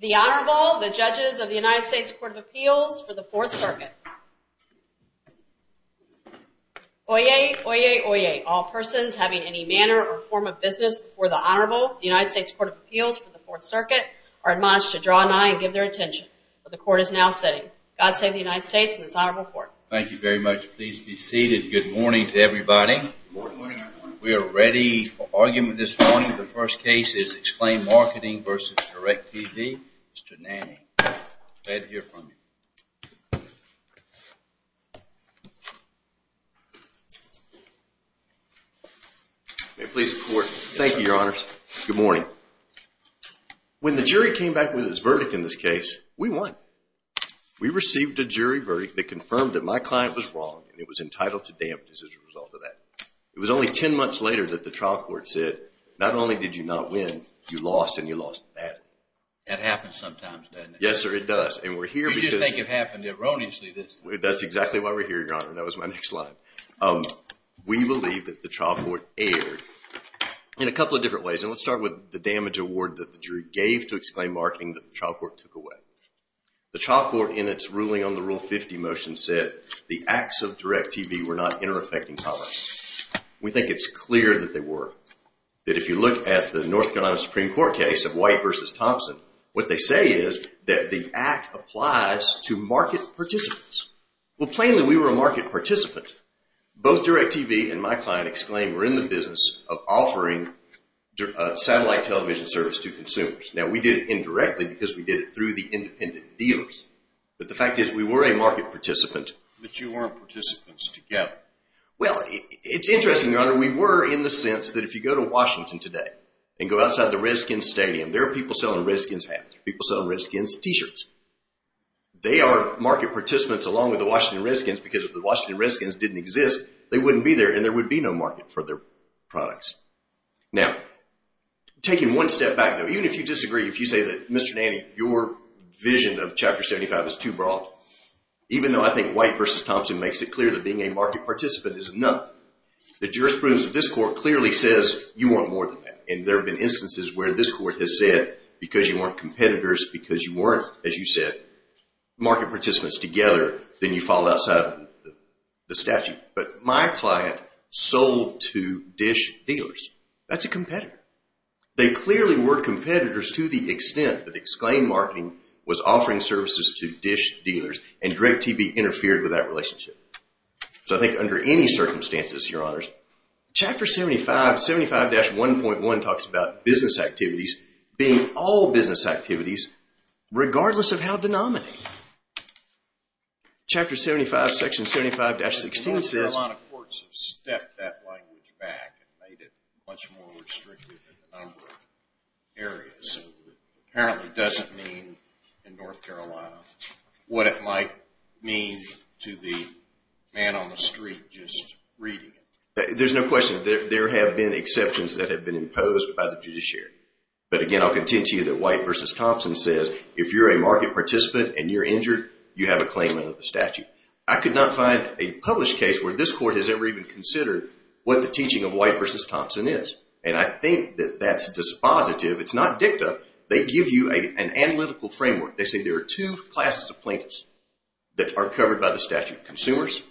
The Honorable, the judges of the United States Court of Appeals for the Fourth Circuit. Oyez, oyez, oyez. All persons having any manner or form of business before the Honorable, the United States Court of Appeals for the Fourth Circuit, are admonished to draw an eye and give their attention. The court is now sitting. God save the United States and this honorable court. Thank you very much. Please be seated. Good morning to everybody. We are ready for argument this morning. The first case is Exclaim Marketing v. DIRECTV. Mr. Nanny, glad to hear from you. May it please the court. Thank you, your honors. Good morning. When the jury came back with its verdict in this case, we won. We received a jury verdict that confirmed that my client was wrong and it was entitled to damages as a result of that. It was only 10 months later that the trial court said, not only did you not win, you lost and you lost badly. That happens sometimes, doesn't it? Yes, sir. It does. And we're here because... You just think it happened erroneously this time. That's exactly why we're here, your honor. That was my next line. We believe that the trial court erred in a couple of different ways. And let's start with the damage award that the jury gave to Exclaim Marketing that the trial court took away. The trial court in its ruling on the Rule 50 motion said the acts of DIRECTV were not inter-affecting tolerance. We think it's clear that they were. That if you look at the North Carolina Supreme Court case of White v. Thompson, what they say is that the act applies to market participants. Well, plainly, we were a market participant. Both DIRECTV and my client, Exclaim, were in the business of offering satellite television service to consumers. Now, we did it indirectly because we did it through the independent dealers. But the fact is, we were a market participant. But you weren't participants together. Well, it's interesting, your honor. We were in the sense that if you go to Washington today and go outside the Redskins Stadium, there are people selling Redskins hats, people selling Redskins t-shirts. They are market participants along with the Washington Redskins because if the Washington Redskins didn't exist, they wouldn't be there and there would be no market for their products. Now, taking one step back though, even if you disagree, if you say that, Mr. Nanny, your vision of Chapter 75 is too broad, even though I think White v. Thompson makes it clear that being a market participant is enough. The jurisprudence of this court clearly says, you want more than that. And there have been instances where this court has said, because you weren't competitors, because you weren't, as you said, market participants together, then you fall outside of the statute. But my client sold to DISH dealers. That's a competitor. They clearly were competitors to the extent that Exclaim Marketing was offering services to DISH dealers and DirectTB interfered with that relationship. So I think under any circumstances, Your Honors, Chapter 75, 75-1.1 talks about business activities being all business activities, regardless of how denominated. Chapter 75, Section 75-16 says... North Carolina courts have stepped that language back and made it much more restrictive in a what it might mean to the man on the street just reading it. There's no question. There have been exceptions that have been imposed by the judiciary. But again, I'll contend to you that White v. Thompson says, if you're a market participant and you're injured, you have a claimant of the statute. I could not find a published case where this court has ever even considered what the teaching of White v. Thompson is. And I think that that's dispositive. It's not dicta. They give you an analytical framework. They say there are two classes of plaintiffs that are covered by the statute, consumers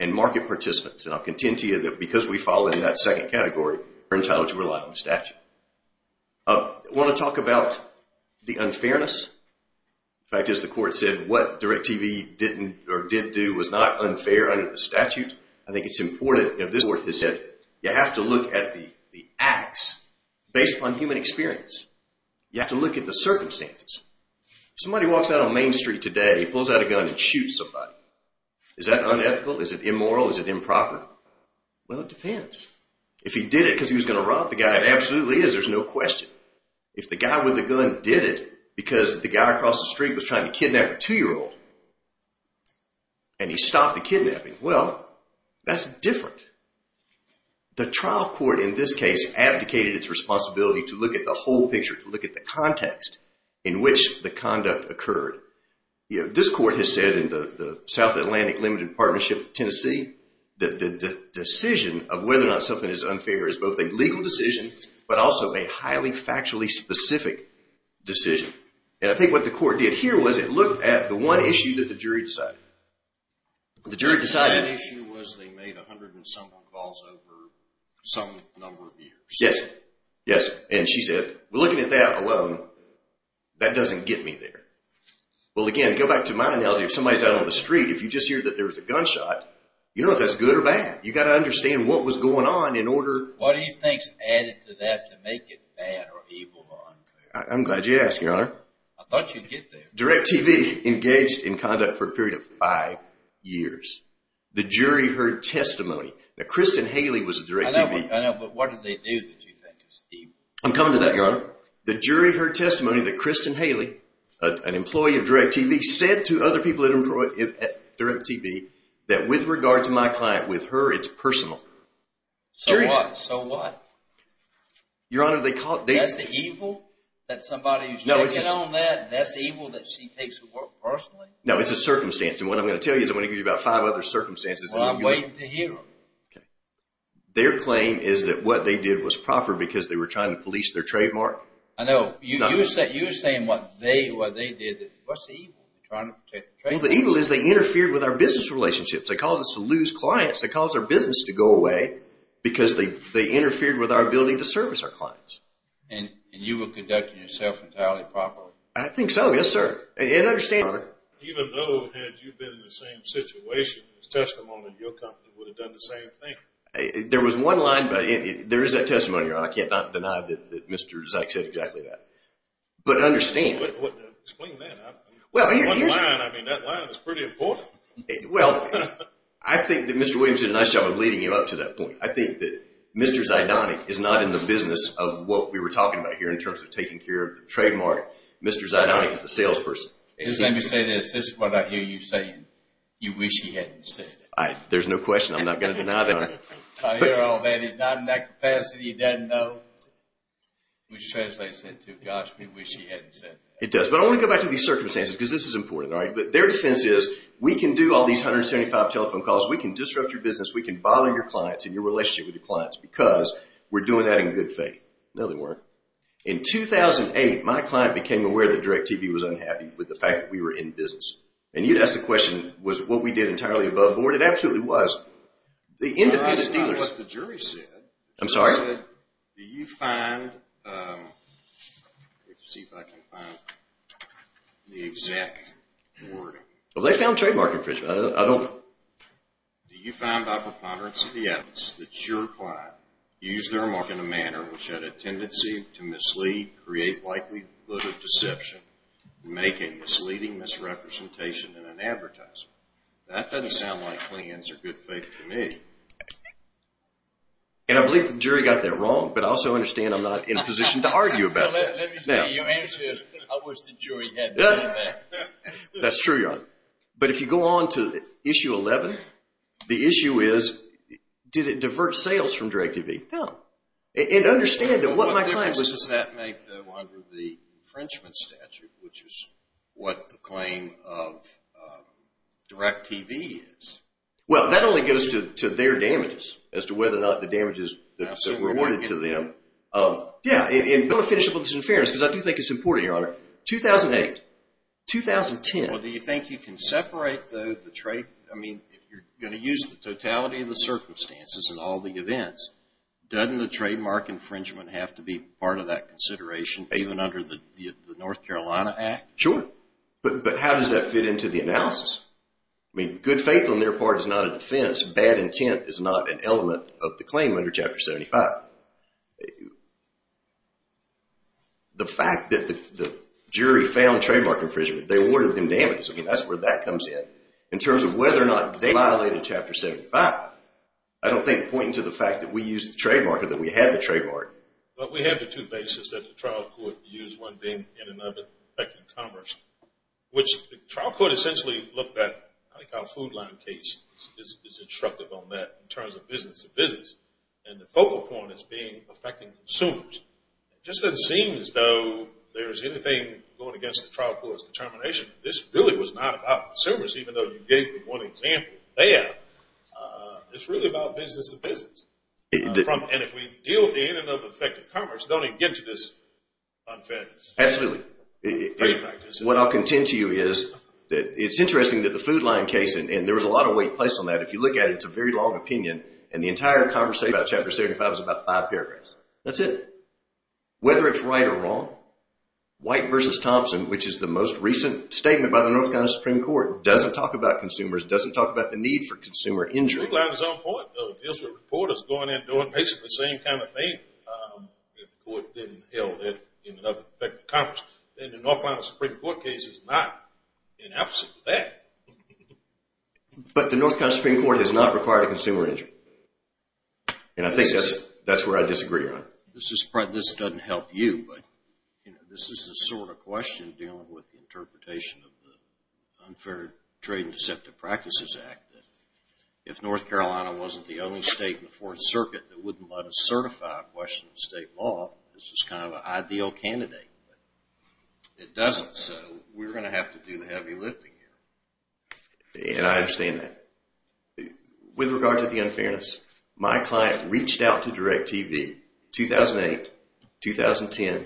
and market participants. And I'll contend to you that because we fall in that second category, we're entitled to rely on the statute. I want to talk about the unfairness. In fact, as the court said, what DirectTB didn't or did do was not unfair under the statute. I think it's important. This court has said you have to look at the acts based upon human experience. You have to look at the circumstances. Somebody walks out on Main Street today, he pulls out a gun and shoots somebody. Is that unethical? Is it immoral? Is it improper? Well, it depends. If he did it because he was going to rob the guy, it absolutely is. There's no question. If the guy with the gun did it because the guy across the street was trying to kidnap a two-year-old and he stopped the kidnapping, well, that's different. The trial court in this case abdicated its responsibility to look at the whole picture, to look at the context in which the conduct occurred. This court has said in the South Atlantic Limited Partnership, Tennessee, that the decision of whether or not something is unfair is both a legal decision but also a highly factually specific decision. And I think what the court did here was it looked at the one issue that the jury decided. The jury decided- That issue was they made 100 and something calls over some number of years. Yes. Yes. And she said, well, looking at that alone, that doesn't get me there. Well, again, go back to my analogy. If somebody's out on the street, if you just hear that there was a gunshot, you don't know if that's good or bad. You've got to understand what was going on in order- What do you think's added to that to make it bad or evil or unclear? I'm glad you asked, Your Honor. I thought you'd get there. DirecTV engaged in conduct for a period of five years. The jury heard testimony. Now, Kristen Haley was at DirecTV. I know, but what did they do that you think is evil? I'm coming to that, Your Honor. The jury heard testimony that Kristen Haley, an employee of DirecTV, said to other people at DirecTV that, with regard to my client, with her, it's personal. So what? So what? Your Honor, they called- That's the evil that somebody's taking on that, and that's the evil that she takes at work personally? No, it's a circumstance. And what I'm going to tell you is I'm going to give you about five other circumstances. Well, I'm waiting to hear them. Okay. Their claim is that what they did was proper because they were trying to police their trademark? I know. You're saying what they did, what's the evil? Trying to protect the trademark? Well, the evil is they interfered with our business relationships. They caused us to lose clients. They caused our business to go away because they interfered with our ability to service our clients. And you were conducting yourself entirely properly? I think so, yes, sir. And understand, Your Honor- Even though had you been in the same situation, it's testimony that your company would have done the same thing. There was one line, but there is that testimony, Your Honor. I can't deny that Mr. Zyk said exactly that. But understand- Explain that. One line, I mean, that line is pretty important. Well, I think that Mr. Williams did a nice job of leading you up to that point. I think that Mr. Zydonik is not in the business of what we were talking about here in terms of taking care of the trademark. Mr. Zydonik is the salesperson. Let me say this. This is what I hear you saying. You wish he hadn't said that. There's no question. I'm not going to deny that, Your Honor. I hear all that. He's not in that capacity. He doesn't know. Which translates into, gosh, we wish he hadn't said that. It does. But I want to go back to these circumstances because this is important, all right? But their defense is we can do all these 175 telephone calls. We can disrupt your business. We can bother your clients and your relationship with your clients because we're doing that in good faith. No, they weren't. In 2008, my client became aware that DirecTV was unhappy with the fact that we were in business. And you'd ask the question, was what we did entirely above board? It absolutely was. The independent dealers... That's not what the jury said. I'm sorry? They said, do you find... Let me see if I can find the exact wording. Well, they found trademark infringement. I don't... Do you find by preponderance of the evidence that your client used their remark in a manner which had a tendency to mislead, create likelihood of deception, make a misleading misrepresentation in an advertisement? That doesn't sound like clients are good faith to me. And I believe the jury got that wrong, but I also understand I'm not in a position to argue about that. Let me tell you, your answer is, I wish the jury had done that. That's true, John. But if you go on to issue 11, the issue is, did it divert sales from DirecTV? No. And understand that what my client was... What difference does that make, though, under the infringement statute, which is what the claim of DirecTV is? Well, that only goes to their damages, as to whether or not the damages that were awarded to them. Yeah, and let me finish up on this in fairness, because I do think it's important, Your Honor. 2008, 2010... Well, do you think you can separate, though, the trade... I mean, if you're going to use the totality of the circumstances and all the events, doesn't the trademark infringement have to be part of that consideration, even under the North Carolina Act? Sure. But how does that fit into the analysis? I mean, good faith on their part is not a defense. Bad intent is not an element of the claim under Chapter 75. The fact that the jury found trademark infringement, they awarded them damages. I mean, that's where that comes in. In terms of whether or not they violated Chapter 75, I don't think pointing to the fact that we used the trademark or that we had the trademark. But we have the two bases that the trial court used, one being in and of it affecting commerce, which the trial court essentially looked at, I think, our food line case is instructive on that in terms of business to business, and the focal point is being affecting consumers. It just doesn't seem as though there's anything going against the trial court's determination. This really was not about consumers, even though you gave me one example there. It's really about business to business. And if we deal with the in and of effect of commerce, don't even get into this unfairness. Absolutely. What I'll contend to you is that it's interesting that the food line case, and there was a lot of weight placed on that. If you look at it, it's a very long opinion, and the entire conversation about Chapter 75 is about five paragraphs. That's it. Whether it's right or wrong, White v. Thompson, which is the most recent statement by the North Carolina Supreme Court, doesn't talk about consumers, doesn't talk about the need for consumer injury. The food line is on point, though. It deals with reporters going in and doing basically the same kind of thing. If the court didn't held it in and of effect of commerce, then the North Carolina Supreme Court case is not the opposite of that. But the North Carolina Supreme Court has not required a consumer injury. And I think that's where I disagree on it. This doesn't help you, but this is the sort of question dealing with the interpretation of the Unfair Trade and Deceptive Practices Act. If North Carolina wasn't the only state in the Fourth Circuit that wouldn't let us certify a question of state law, this is kind of an ideal candidate. But it doesn't, so we're going to have to do the heavy lifting here. And I understand that. With regard to the unfairness, my client reached out to DirecTV 2008, 2010,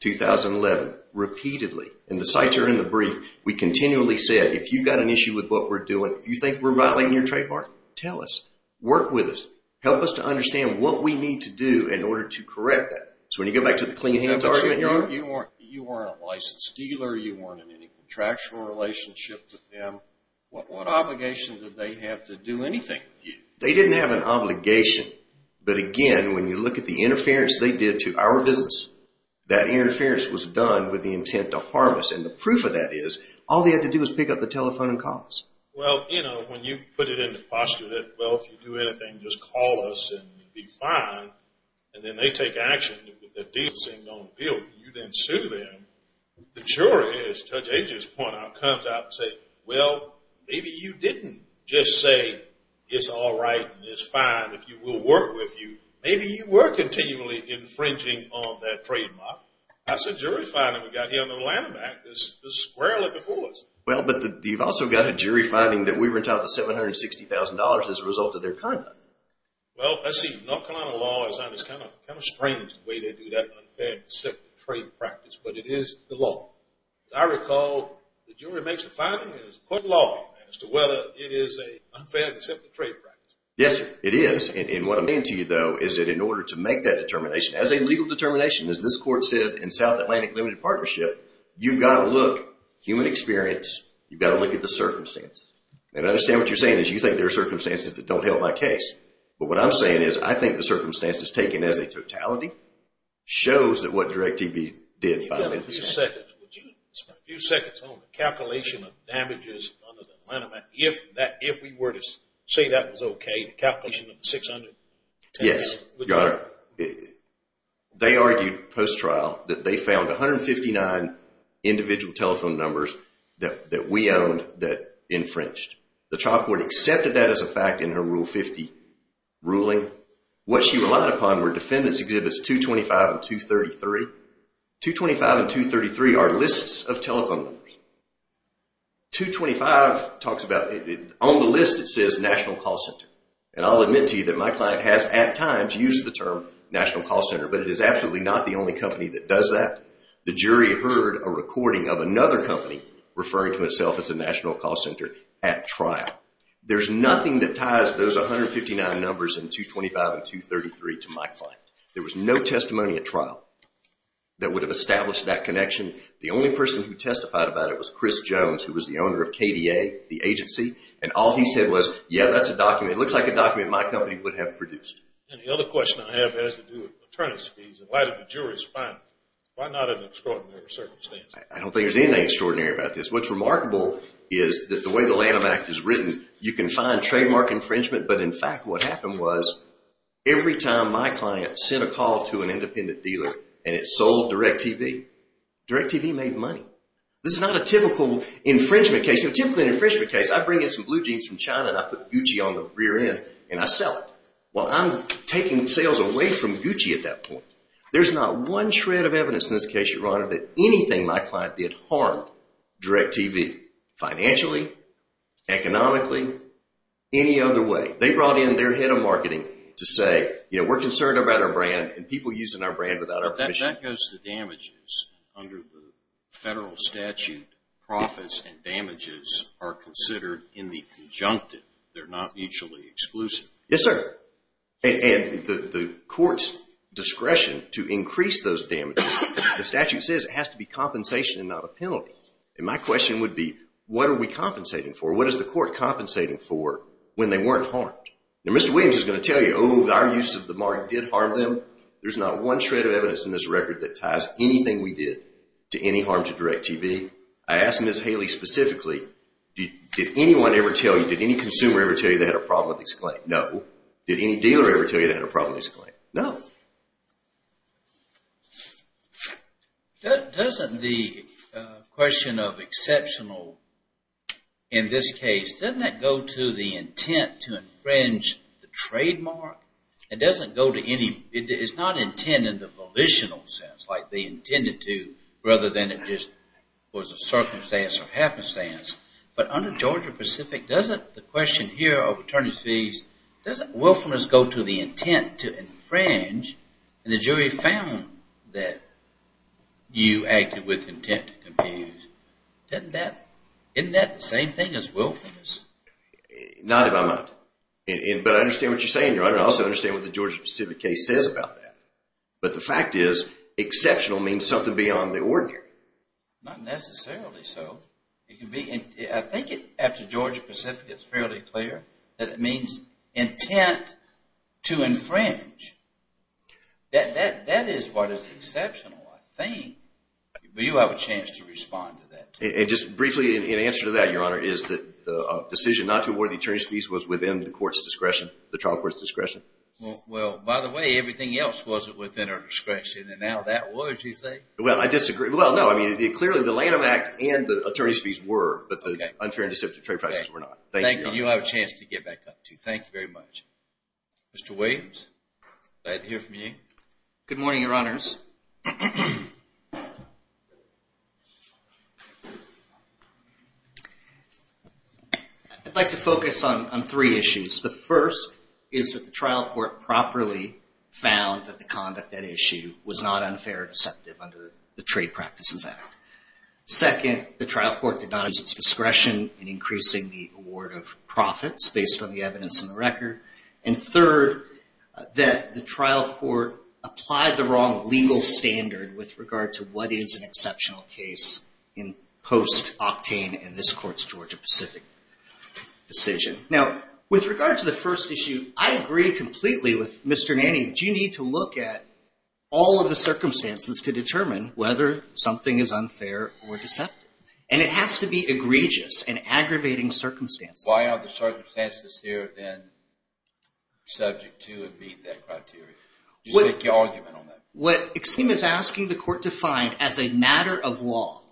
2011, repeatedly, and the cites are in the brief. We continually said, if you've got an issue with what we're doing, if you think we're violating your trademark, tell us. Work with us. Help us to understand what we need to do in order to correct that. So when you go back to the clean hands argument, you weren't a licensed dealer, you weren't in any contractual relationship with them. What obligations did they have to do anything with you? They didn't have an obligation. But again, when you look at the interference they did to our business, that interference was done with the intent to harm us. And the proof of that is, all they had to do was pick up the telephone and call us. Well, you know, when you put it in the posture that, well, if you do anything, just call us and we'll be fine. And then they take action, but the deal isn't going to appeal. You then sue them. The jury, as Judge Agers pointed out, comes out and say, well, maybe you didn't just say it's all right and it's fine if we'll work with you. Maybe you were continually infringing on that trademark. That's a jury finding we've got here under the Lanham Act. It's squarely before us. Well, but you've also got a jury finding that we were entitled to $760,000 as a result of their conduct. Well, let's see, North Carolina law is kind of strange the way they do that unfair and court law as to whether it is a unfair and acceptable trade practice. Yes, it is. And what I'm saying to you, though, is that in order to make that determination as a legal determination, as this court said in South Atlantic Limited Partnership, you've got to look, human experience, you've got to look at the circumstances. And I understand what you're saying is you think there are circumstances that don't help my case. But what I'm saying is I think the circumstances taken as a totality shows that what DirecTV did. Would you spend a few seconds on the calculation of damages under the Lanham Act, if we were to say that was okay, the calculation of the $610,000? Yes. They argued post-trial that they found 159 individual telephone numbers that we owned that infringed. The trial court accepted that as a fact in her Rule 50 ruling. What she relied upon were defendants exhibits 225 and 233. 225 and 233 are lists of telephone numbers. 225 talks about, on the list it says National Call Center. And I'll admit to you that my client has at times used the term National Call Center, but it is absolutely not the only company that does that. The jury heard a recording of another company referring to itself as a National Call Center at trial. There's nothing that ties those 159 numbers in 225 and 233 to my client. There was no testimony at trial that would have established that connection. The only person who testified about it was Chris Jones, who was the owner of KDA, the agency. And all he said was, yeah, that's a document, it looks like a document my company would have produced. And the other question I have has to do with maternity fees and why did the jury respond? Why not in extraordinary circumstances? I don't think there's anything extraordinary about this. What's remarkable is that the way the Lanham Act is written, you can find trademark infringement. But in fact, what happened was every time my client sent a call to an independent dealer and it sold DirecTV, DirecTV made money. This is not a typical infringement case. In a typical infringement case, I bring in some blue jeans from China and I put Gucci on the rear end and I sell it. Well, I'm taking sales away from Gucci at that point. There's not one shred of evidence in this case, Your Honor, that anything my client did harmed DirecTV financially, economically, any other way. They brought in their head of marketing to say, we're concerned about our brand and people using our brand without our permission. That goes to damages under the federal statute. Profits and damages are considered in the conjunctive. They're not mutually exclusive. Yes, sir. And the court's discretion to increase those damages, the statute says it has to be compensation and not a penalty. And my question would be, what are we compensating for? What is the court compensating for when they weren't harmed? Now, Mr. Williams is going to tell you, oh, our use of the mark did harm them. There's not one shred of evidence in this record that ties anything we did to any harm to DirecTV. I ask Ms. Haley specifically, did anyone ever tell you, did any consumer ever tell you they had a problem with this claim? No. Did any dealer ever tell you they had a problem with this claim? No. Doesn't the question of exceptional in this case, doesn't that go to the intent to infringe the trademark? It doesn't go to any, it's not intent in the volitional sense, like they intended to, rather than it just was a circumstance or happenstance. But under Georgia Pacific, doesn't the question here of attorney's fees, doesn't willfulness go to the intent to infringe? And the jury found that you acted with intent to confuse. Isn't that the same thing as willfulness? Not in my mind. But I understand what you're saying, Your Honor. I also understand what the Georgia Pacific case says about that. But the fact is, exceptional means something beyond the ordinary. Not necessarily so. I think after Georgia Pacific, it's fairly clear that it means intent to infringe. That is what is exceptional, I think. But you have a chance to respond to that. And just briefly, in answer to that, Your Honor, is the decision not to award the attorney's fees was within the court's discretion, the trial court's discretion? Well, by the way, everything else wasn't within our discretion, and now that was, you say? Well, I disagree. Well, no, I mean, clearly the Lanham Act and the attorney's fees were, but the unfair and deceptive trade prices were not. Thank you, Your Honor. Thank you. You have a chance to get back up to. Thank you very much. Mr. Wade? Can I hear from you? Good morning, Your Honors. I'd like to focus on three issues. The first is that the trial court properly found that the conduct at issue was not unfair or deceptive under the Trade Practices Act. Second, the trial court did not use its discretion in increasing the award of profits based on the evidence in the record. And third, that the trial court applied the wrong legal standard with regard to what is an exceptional case in post-Octane and this Court's Georgia-Pacific decision. Now, with regard to the first issue, I agree completely with Mr. Manning. You need to look at all of the circumstances to be egregious and aggravating circumstances. Why are the circumstances here, then, subject to and meet that criteria? Just make your argument on that. What Exim is asking the Court to find as a matter of law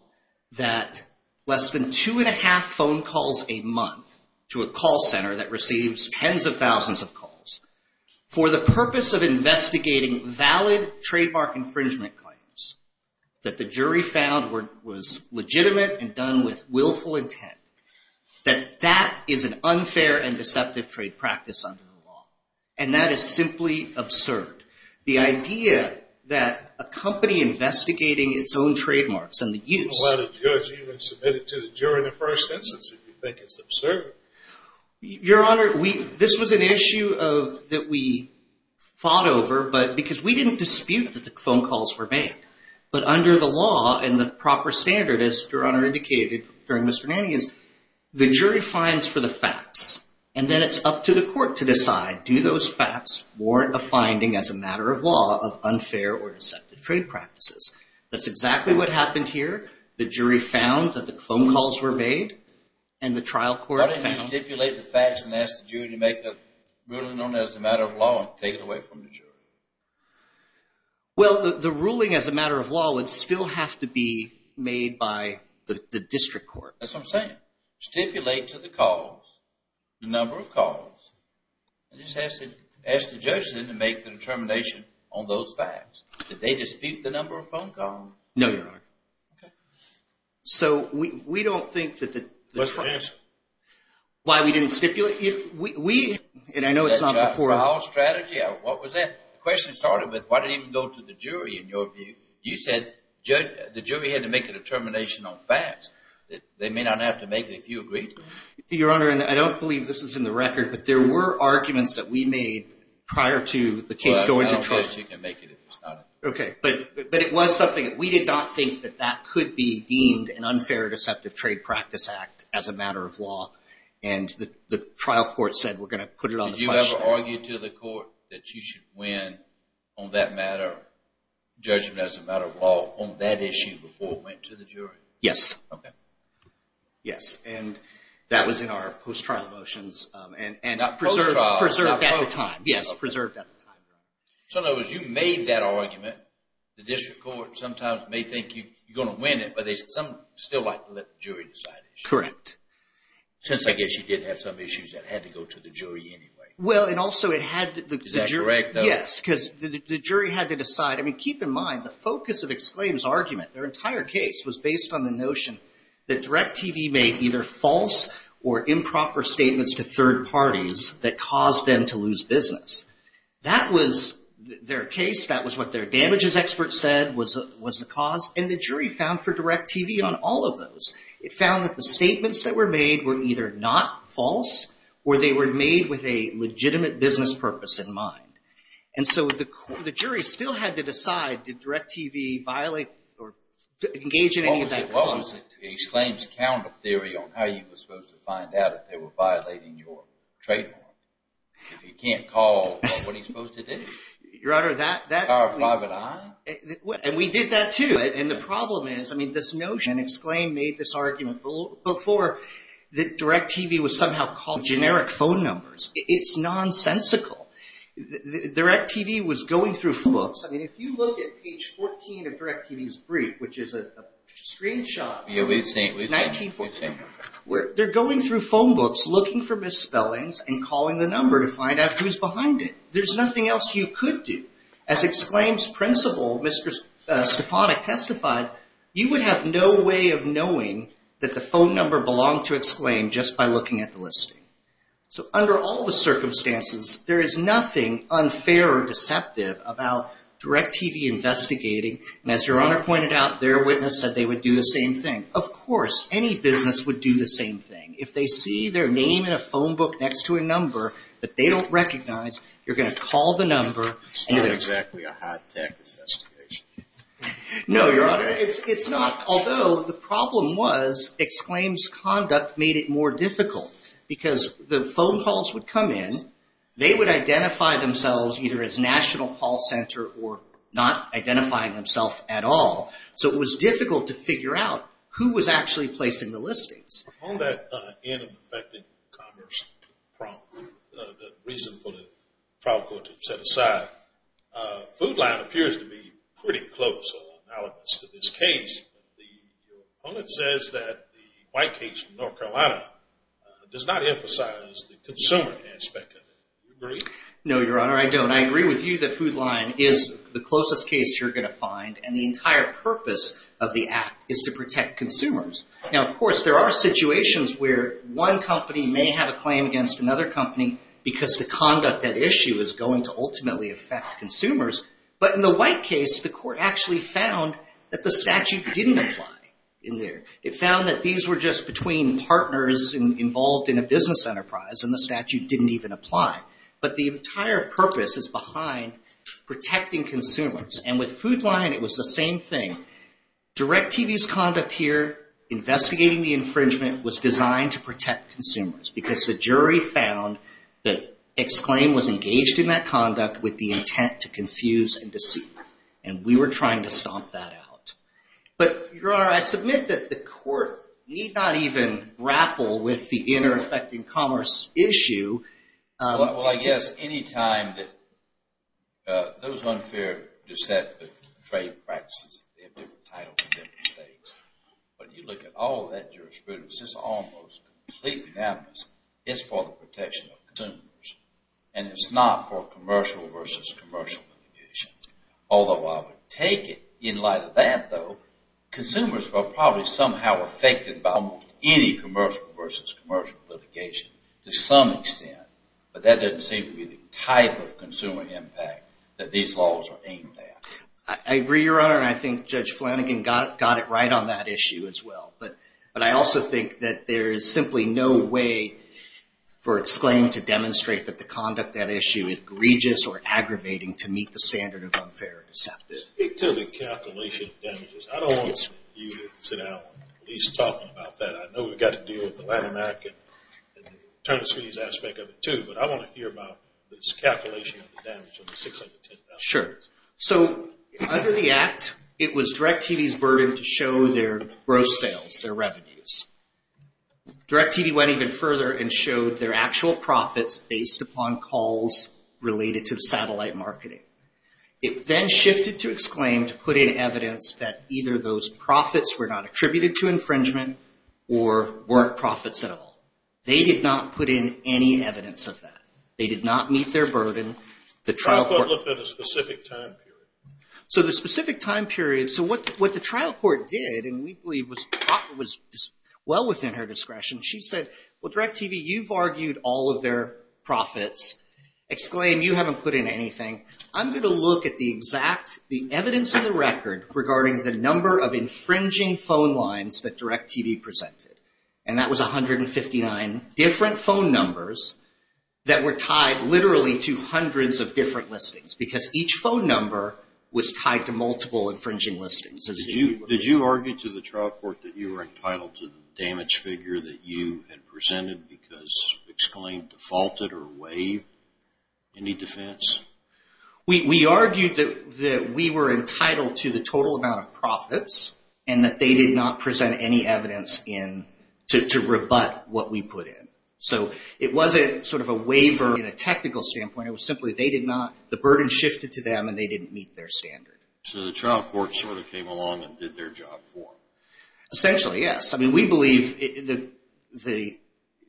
that less than two and a half phone calls a month to a call center that receives tens of thousands of calls for the purpose of investigating valid trademark infringement claims, that the jury found was legitimate and done with willful intent, that that is an unfair and deceptive trade practice under the law. And that is simply absurd. The idea that a company investigating its own trademarks and the use... You wouldn't let a judge even submit it to the jury in the first instance if you think it's absurd. Your Honor, this was an issue that we because we didn't dispute that the phone calls were made, but under the law and the proper standard, as Your Honor indicated during Mr. Manning, is the jury finds for the facts and then it's up to the Court to decide, do those facts warrant a finding as a matter of law of unfair or deceptive trade practices? That's exactly what happened here. The jury found that the phone calls were made and the trial court found... Why didn't you stipulate the facts and ask the jury to make a ruling on it as a matter of law and take it away from the jury? Well, the ruling as a matter of law would still have to be made by the district court. That's what I'm saying. Stipulate to the cause the number of calls. It just has to ask the judge then to make the determination on those facts. Did they dispute the number of phone calls? No, Your Honor. Okay. So we don't think that the... Why we didn't stipulate it? We, and I know it's not before... That's a foul strategy. What was that? The question started with why didn't it go to the jury in your view? You said the jury had to make a determination on facts that they may not have to make it if you agreed. Your Honor, and I don't believe this is in the record, but there were arguments that we made prior to the case going to trial. Well, I don't think you can make it if it's not... Okay. But it was something we did not think that that could be deemed an unfair deceptive trade practice act as a matter of law. And the trial court said, we're going to put it on the question. Did you ever argue to the court that you should win on that matter, judgment as a matter of law on that issue before it went to the jury? Yes. Okay. Yes. And that was in our post-trial motions and preserved at the time. Yes. Preserved at the time. So in other words, you made that argument. The district court sometimes may think you're going to win it, but they still like to let the jury decide. Correct. Since I guess you did have some issues that had to go to the jury anyway. Well, and also it had... Is that correct? Yes. Because the jury had to decide. I mean, keep in mind the focus of Exclaim's argument, their entire case was based on the notion that DirecTV made either false or improper statements to third parties that caused them to lose business. That was their case. That was what their damages experts said was the cause. And the jury found for DirecTV on all of those, it found that the statements that were made were either not false or they were made with a legitimate business purpose in mind. And so the jury still had to decide, did DirecTV violate or engage in any of that? What was it to Exclaim's counter theory on how you were supposed to find out if they were violating your trademark? If you can't call, what are you supposed to do? Your Honor, that... Call a private eye? And we did that too. And the problem is, I mean, this notion, and Exclaim made this argument before that DirecTV was somehow called generic phone numbers. It's nonsensical. DirecTV was going through books. I mean, if you look at page 14 of DirecTV's brief, which is a screenshot, where they're going through phone books, looking for misspellings and calling the number to find out who's behind it. There's nothing else you could do. As Exclaim's principal, Mr. Stepanek testified, you would have no way of knowing that the phone number belonged to Exclaim just by looking at the listing. So under all the circumstances, there is nothing unfair or deceptive about DirecTV investigating. And as Your Honor pointed out, their witness said they would do the same thing. Of course, any business would do the same thing. If they see their name in a phone book next to a number that they don't recognize, you're going to call the number. It's not exactly a high-tech investigation. No, Your Honor. It's not. Although the problem was Exclaim's conduct made it more difficult because the phone calls would come in, they would identify themselves either as National Call Center or not identifying themselves at all. So it was difficult to figure out who was actually placing the listings. On that end of the affected commerce problem, the reason for the trial court to set aside, FoodLine appears to be pretty close or analogous to this case. The opponent says that the white case in North Carolina does not emphasize the consumer aspect of it. Do you agree? No, Your Honor. I don't. I agree with you that FoodLine is the closest case you're going to find and the entire purpose of the act is to protect consumers. Now, of course, there are situations where one company may have a claim against another company because the conduct at issue is going to ultimately affect consumers. But in the white case, the court actually found that the statute didn't apply. It found that these were just between partners involved in a business enterprise and the statute didn't even apply. But the entire purpose is behind protecting consumers. And with FoodLine, it was the same thing. DirecTV's conduct here, investigating the infringement, was designed to protect consumers because the jury found that Exclaim was engaged in that conduct with the But, Your Honor, I submit that the court need not even grapple with the inter-affecting commerce issue. Well, I guess any time that those unfair dissent trade practices, they have different titles and different stakes. But you look at all of that jurisprudence, it's almost completely analogous. It's for the protection of consumers and it's not for commercial versus commercial litigation. Although I would take it, in light of that though, consumers are probably somehow affected by almost any commercial versus commercial litigation to some extent. But that doesn't seem to be the type of consumer impact that these laws are aimed at. I agree, Your Honor, and I think Judge Flanagan got it right on that issue as well. But I also think that there is simply no way for Exclaim to demonstrate that the conduct of that issue is egregious or aggravating to meet the standard of unfair dissent. Speak to the calculation of damages. I don't want you to sit down and at least talk about that. I know we've got to deal with the Latin American returns fees aspect of it too, but I want to hear about this calculation of the damage of the $610,000. Sure. So, under the Act, it was DirecTV's burden to show their gross sales, their revenues. DirecTV went even further and showed their actual profits based upon calls related to satellite marketing. It then shifted to Exclaim to put in evidence that either those profits were not attributed to infringement or weren't profits at all. They did not put in any evidence of that. They did not meet their burden. The trial court looked at a specific time period. So, the specific time period. So, what the trial court did, and we believe was well within her discretion, she said, well, DirecTV, you've argued all of their profits. Exclaim, you haven't put in anything. I'm going to look at the exact, the evidence in the record regarding the number of infringing phone lines that DirecTV presented. And that was 159 different phone numbers that were tied literally to hundreds of different listings because each phone number was tied to multiple infringing listings. Did you argue to the trial court that you were entitled to the damage figure that you had presented because Exclaim defaulted or waived any defense? We argued that we were entitled to the total amount of profits and that they did not present any evidence to rebut what we put in. So, it wasn't sort of a waiver in a technical standpoint. It was simply they did not, the burden shifted to them and they didn't meet their standard. So, the trial court sort of came along and did their job for them? Essentially, yes. I mean, we believe the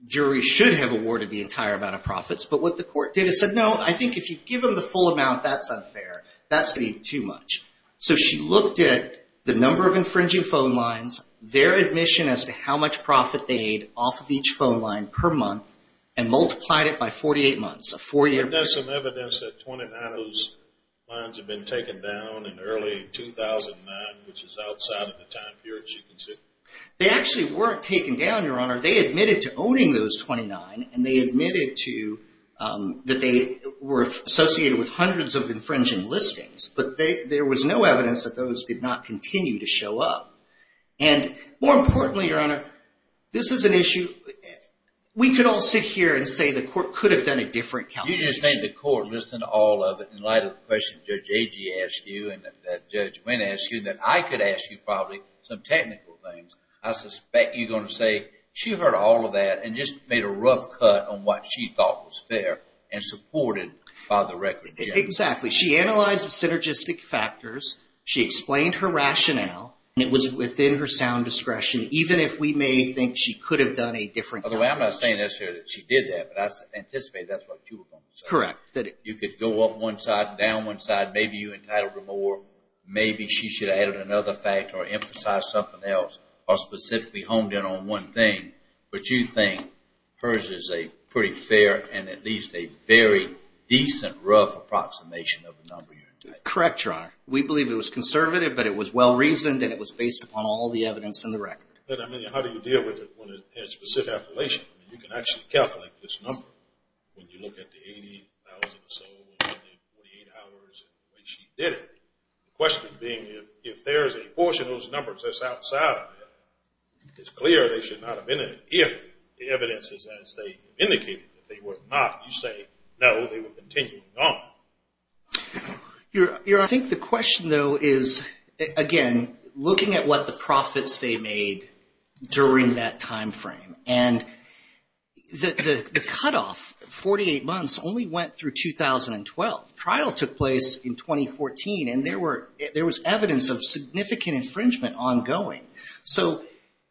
jury should have awarded the entire amount of profits, but what the court did is said, no, I think if you give them the full amount, that's unfair. That's going to be too much. So, she looked at the number of infringing phone lines, their admission as to how much profit they made off of each phone line per month, and multiplied it by 48 months, a four-year period. But there's some evidence that 29 of those lines have been taken down in early 2009, which is outside of the time period she considered? They actually weren't taken down, Your Honor. They admitted to owning those 29 and they admitted that they were associated with hundreds of infringing listings, but there was no evidence that those did not continue to show up. And more importantly, Your Honor, this is an issue, we could all sit here and say the court could have done a different calculation. You just made the court listen to all of it in light of the question Judge Agee asked you, and that Judge Winn asked you, that I could ask you probably some technical things. I suspect you're going to say she heard all of that and just made a rough cut on what she thought was fair and supported by the record judge. Exactly. She analyzed the synergistic factors, she explained her rationale, and it was within her sound discretion, even if we may think she could have done a different- By the way, I'm not saying necessarily that she did that, but I anticipate that's what you were going to say. Correct. You could go up one side, down one side, maybe you entitled her more, maybe she should have added another factor or emphasized something else or specifically honed in on one thing. But you think hers is a pretty fair and at least a very decent, rough approximation of the number you're entitled to. Correct, Your Honor. We believe it was conservative, but it was well-reasoned, and it was based upon all the evidence in the record. But I mean, how do you deal with it when it's a specific appellation? You can actually calculate this number when you look at the 80,000 or so in 48 hours when she did it. The question being if there's a portion of those numbers that's outside of it, it's clear they should not have been there. If the evidence is as they indicated that they were not, you say, no, they were continuing on. Your Honor, I think the question though is, again, looking at what the profits they made during that timeframe. And the cutoff, 48 months, only went through 2012. Trial took place in 2014, and there was evidence of significant infringement ongoing. So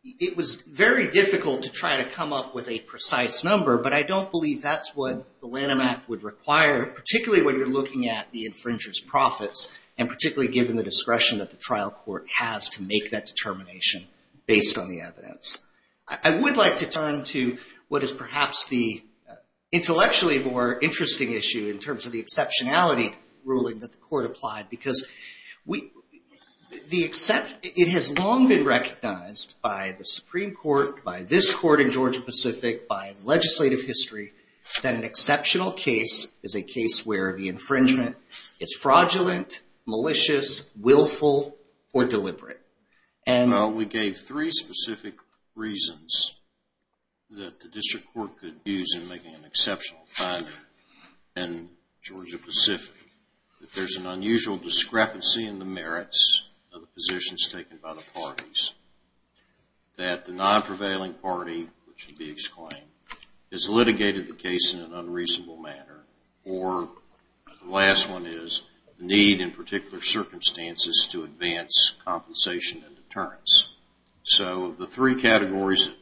it was very difficult to try to come up with a precise number, but I don't believe that's what the Lanham Act would require, particularly when you're looking at the infringer's profits, and particularly given the discretion that the trial court has to make that determination based on the evidence. I would like to turn to what is perhaps the intellectually more interesting issue in terms of the exceptionality ruling that the court applied, because it has long been recognized by the Supreme Court, by this court in Georgia-Pacific, by legislative history, that an exceptional case is a case where the infringement is fraudulent, malicious, willful, or deliberate. We gave three specific reasons that the district court could use in making an exceptional finding in Georgia-Pacific. That there's an unusual discrepancy in the merits of the positions taken by the parties. That the non-prevailing party, which would be exclaimed, has litigated the case in an unreasonable manner. Or the last one is the need in particular circumstances to advance compensation and deterrence. So the three categories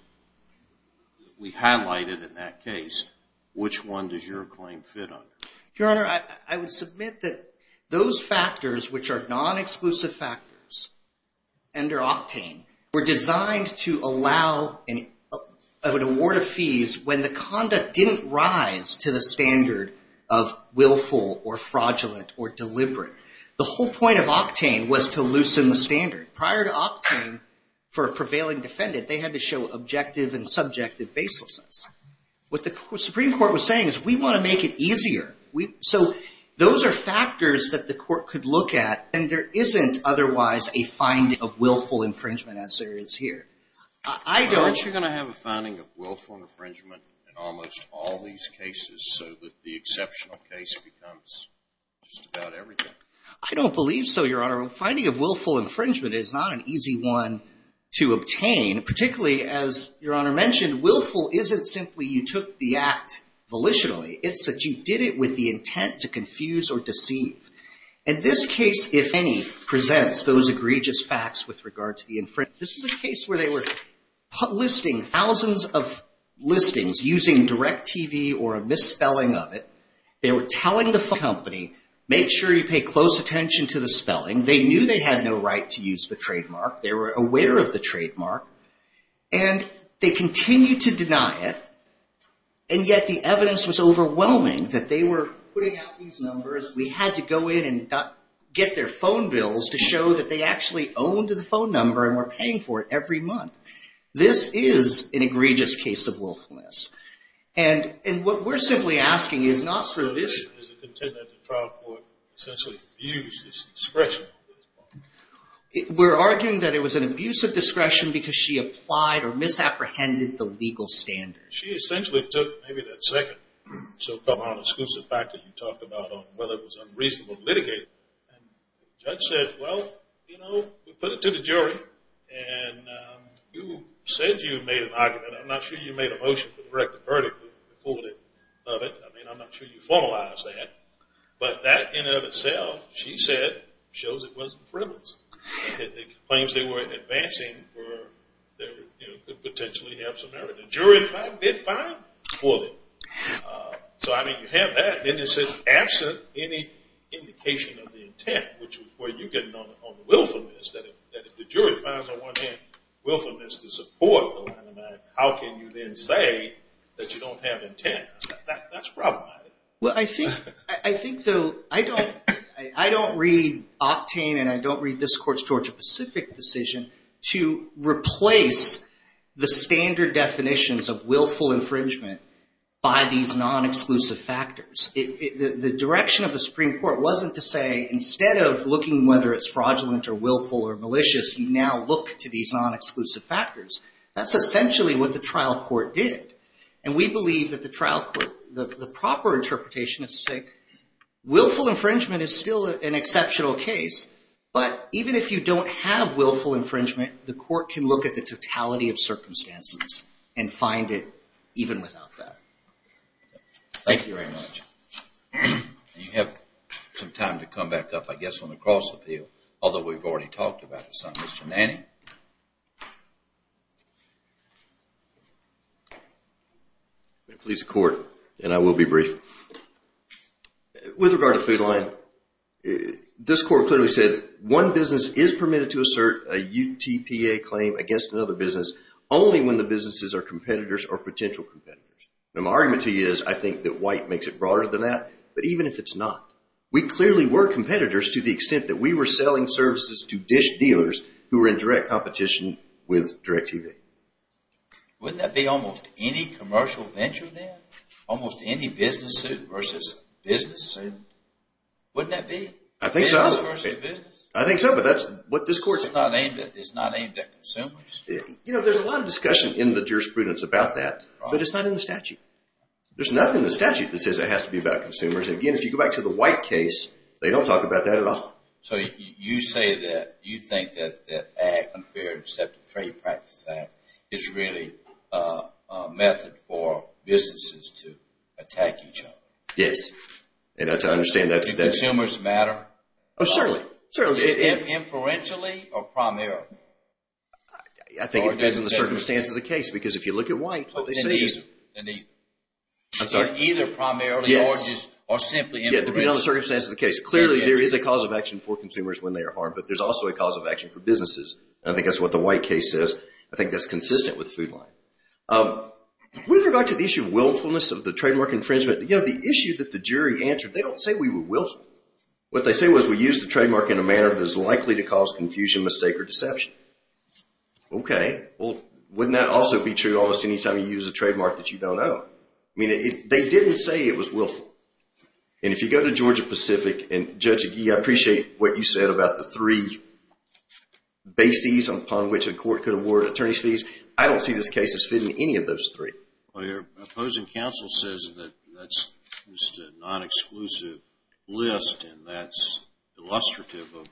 we highlighted in that case, which one does your claim fit under? Your Honor, I would submit that those factors which are non-exclusive factors under Octane were designed to allow an award of fees when the conduct didn't rise to the standard of willful, or fraudulent, or deliberate. The whole point of Octane was to loosen the standard. Prior to Octane, for a prevailing defendant, they had to show objective and subjective baselessness. What the Supreme Court was saying is we want to make it easier. So those are factors that the finding of willful infringement as there is here. I don't. Aren't you going to have a finding of willful infringement in almost all these cases, so that the exceptional case becomes just about everything? I don't believe so, Your Honor. A finding of willful infringement is not an easy one to obtain. Particularly, as Your Honor mentioned, willful isn't simply you took the act volitionally. It's that you did it with the intent to confuse or deceive. And this case, if any, presents those egregious facts with regard to the infringement. This is a case where they were listing thousands of listings using DirecTV or a misspelling of it. They were telling the company, make sure you pay close attention to the spelling. They knew they had no right to use the trademark. They were aware of the trademark. And they continued to deny it. And yet, the evidence was overwhelming that they were putting out these numbers. We had to go in and get their phone bills to show that they actually owned the phone number and were paying for it every month. This is an egregious case of willfulness. And what we're simply asking is not for this. Is it the intent that the trial court essentially abused this discretion? We're arguing that it was an abuse of discretion because she applied or misapprehended the legal standards. She essentially took maybe that second so-called exclusive fact that you talked about on whether it was unreasonable to litigate. And the judge said, well, you know, we put it to the jury. And you said you made an argument. I'm not sure you made a motion to direct the verdict. You fooled it of it. I mean, I'm not sure you formalized that. But that in and of itself, she said, shows it wasn't frivolous. The claims they were advancing were could potentially have some merit. The jury, in fact, did fine for them. So, I mean, you have that. Then it said, absent any indication of the intent, which is where you're getting on the willfulness, that if the jury finds, on one hand, willfulness to support, how can you then say that you don't have intent? That's problematic. Well, I think, though, I don't read Octane and I don't read this court's Georgia-Pacific decision to replace the standard definitions of willful infringement by these non-exclusive factors. The direction of the Supreme Court wasn't to say, instead of looking whether it's fraudulent or willful or malicious, you now look to these non-exclusive factors. That's essentially what the trial court did. And we believe that the trial court, the proper interpretation is to say, willful infringement is still an exceptional case, but even if you don't have willful infringement, the court can look at the totality of circumstances and find it even without that. Thank you very much. You have some time to come back up, I guess, on the cross-appeal, although we've already talked about this on Mr. Nanny. I'm going to please the court and I will be brief. With regard to Food Line, this court clearly said, one business is permitted to assert a UTPA claim against another business only when the businesses are competitors or potential competitors. Now, my argument to you is, I think that White makes it broader than that, but even if it's not, we clearly were competitors to the extent that we were selling services to dish dealers who were in direct competition with DirecTV. Wouldn't that be almost any commercial venture then? Almost any business suit versus business suit? Wouldn't that be? I think so. I think so, but that's what this court said. It's not aimed at consumers? You know, there's a lot of discussion in the jurisprudence about that, but it's not in the statute. There's nothing in the statute that says it has to be about consumers. Again, if you go back to the White case, they don't talk about that at all. So you say that you think that the Ag, Unfair, Deceptive Trade Practice Act is really a method for businesses to attack each other? Yes, and I understand that. Do consumers matter? Oh, certainly. Is it inferentially or primarily? I think it depends on the circumstance of the case, because if you look at White, what they say is... I'm sorry? Either primarily or simply... Yeah, depending on the circumstance of the case. Clearly, there is a cause of action for consumers when they are harmed, but there's also a cause of action for businesses. I think that's what the White case says. I think that's consistent with Food Line. With regard to the issue of willfulness of the trademark infringement, you know, the issue that the jury answered, they don't say we were willful. What they say was we use the trademark in a manner that is likely to cause confusion, mistake, or deception. Okay. Well, wouldn't that also be true almost any time you use a trademark that you don't own? I mean, they didn't say it was willful. And if you go to Georgia Pacific, and Judge Agee, I appreciate what you said about the three bases upon which a court could award attorney's fees. I don't see this case as fitting any of those three. Well, your opposing counsel says that that's just a non-exclusive list, and that's illustrative of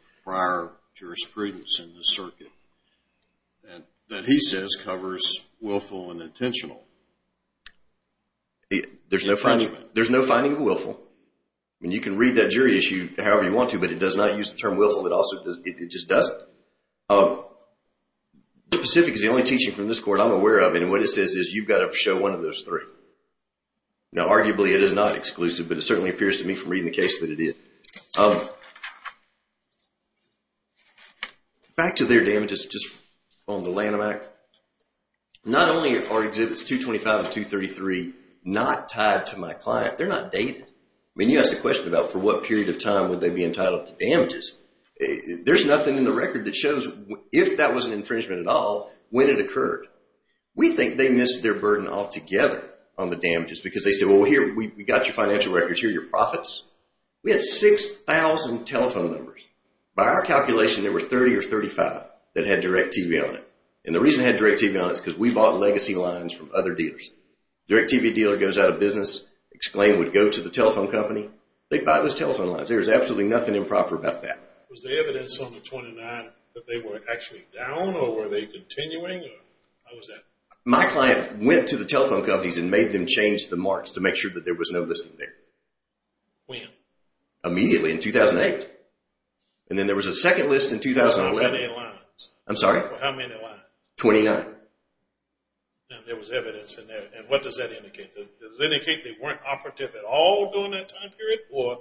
infringement. There's no finding of willful. I mean, you can read that jury issue however you want to, but it does not use the term willful. It just doesn't. The Pacific is the only teaching from this court I'm aware of, and what it says is you've got to show one of those three. Now, arguably, it is not exclusive, but it certainly appears to me from reading the case that it is. Um, back to their damages just on the Lanham Act. Not only are exhibits 225 and 233 not tied to my client, they're not dated. I mean, you ask the question about for what period of time would they be entitled to damages. There's nothing in the record that shows if that was an infringement at all when it occurred. We think they missed their burden altogether on the damages because they said, well, here, we got your financial records here, your profits. We had 6,000 telephone numbers. By our calculation, there were 30 or 35 that had DirecTV on it, and the reason it had DirecTV on it is because we bought legacy lines from other dealers. DirecTV dealer goes out of business, exclaimed, would go to the telephone company. They'd buy those telephone lines. There was absolutely nothing improper about that. Was the evidence on the 29 that they were actually down, or were they continuing, or how was that? My client went to the telephone companies and made them change the marks to make sure that there was no listing there. When? Immediately in 2008, and then there was a second list in 2011. How many lines? I'm sorry? How many lines? 29. Now, there was evidence in there, and what does that indicate? Does it indicate they weren't operative at all during that time period, or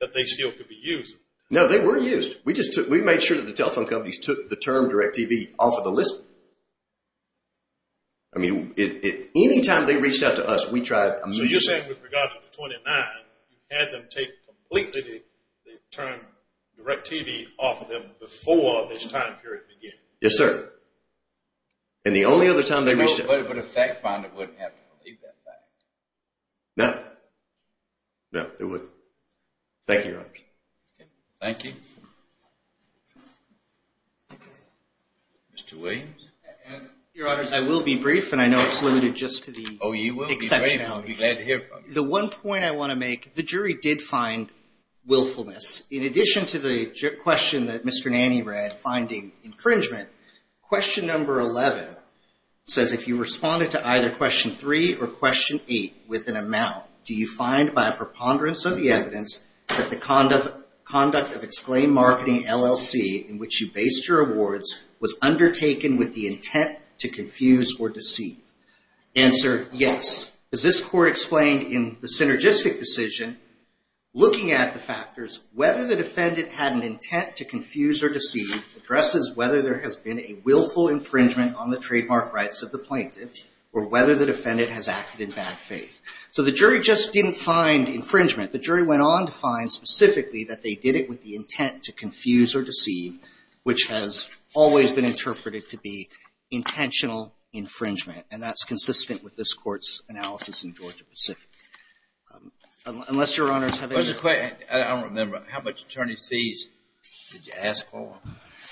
that they still could be used? No, they were used. We made sure that the telephone companies took the term DirecTV off of the list. I mean, anytime they reached out to us, we tried. So you're saying with regard to the 29, you had them take completely the term DirecTV off of them before this time period began? Yes, sir, and the only other time they reached out. But a fact finder wouldn't have to do that. No. No, they wouldn't. Thank you, Your Honors. Thank you. Mr. Williams? Your Honors, I will be brief, and I know it's limited just to the exceptionality. Oh, you will be brief. I'll be glad to hear from you. The one point I want to make, the jury did find willfulness. In addition to the question that Mr. Nanny read, finding infringement, question number 11 says, if you responded to either question 3 or question 8 with an amount, do you find by a preponderance of the evidence that the conduct of exclaimed marketing LLC, in which you based your awards, was undertaken with the intent to confuse or deceive? Answer, yes. As this court explained in the synergistic decision, looking at the factors, whether the defendant had an intent to confuse or deceive addresses whether there has been a willful infringement on the trademark rights of the plaintiff or whether the defendant has acted in bad faith. So the jury just didn't find infringement. The jury went on to find specifically that they did it with the intent to confuse or deceive, which has always been interpreted to be intentional infringement. And that's consistent with this court's analysis in Georgia-Pacific. Unless your honors have any- There's a question. I don't remember. How much attorney fees did you ask for?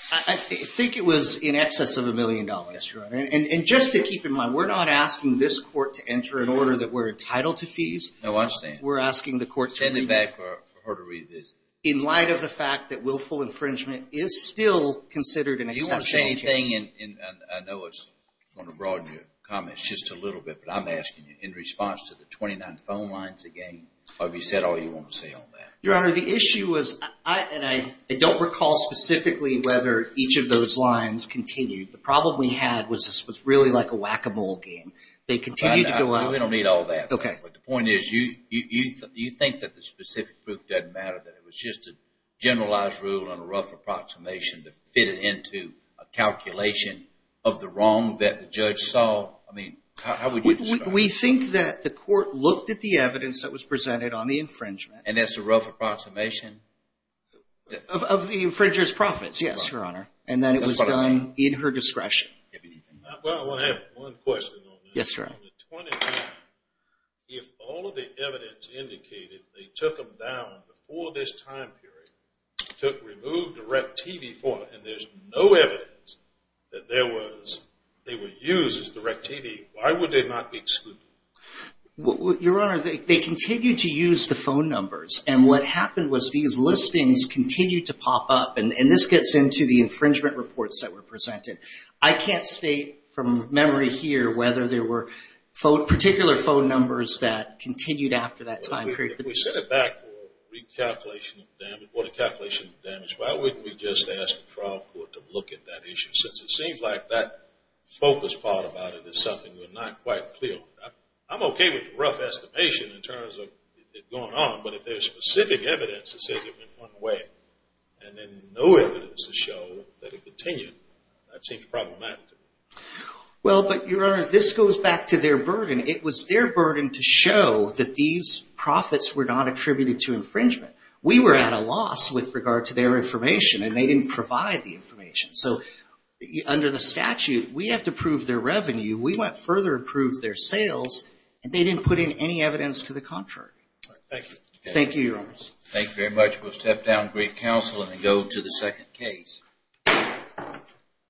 I think it was in excess of a million dollars, your honor. And just to keep in mind, we're not asking this court to enter an order that we're entitled to fees. No, I understand. We're asking the court to- Send me back for her to read this. In light of the fact that willful infringement is still considered an exceptional case. If you want to say anything, and I know it's going to broaden your comments just a little bit, but I'm asking you in response to the 29 phone lines again, have you said all you want to say on that? Your honor, the issue was, and I don't recall specifically whether each of those lines continued. The problem we had was this was really like a whack-a-mole game. They continued to go on- We don't need all that. Okay. But the point is you think that the specific proof doesn't matter, that it was just a generalized rule and a rough approximation to fit it into a calculation of the wrong that the judge saw? I mean, how would you describe it? We think that the court looked at the evidence that was presented on the infringement- And that's a rough approximation? Of the infringer's profits, yes, your honor. And then it was done in her discretion. Well, I want to add one question on that. Yes, sir. On the 29th, if all of the evidence indicated they took them down before this time period, took, removed the REC TV form, and there's no evidence that there was, they were used as the REC TV, why would they not be excluded? Your honor, they continued to use the phone numbers. And what happened was these listings continued to pop up. And this gets into the infringement reports that were presented. I can't state from memory here whether there were particular phone numbers that continued after that time period. If we set it back for recalculation of damage, what a calculation of damage, why wouldn't we just ask the trial court to look at that issue? Since it seems like that focus part about it is something we're not quite clear on. I'm okay with the rough estimation in terms of it going on. But if there's specific evidence that says it went one way, and then no evidence to show that it continued, that seems problematic. Well, but your honor, this goes back to their burden. It was their burden to show that these profits were not attributed to infringement. We were at a loss with regard to their information, and they didn't provide the information. So under the statute, we have to prove their revenue. We went further and proved their sales, and they didn't put in any evidence to the contrary. All right, thank you. Thank you, your honor. Thank you very much. We'll step down to brief counsel and go to the second case.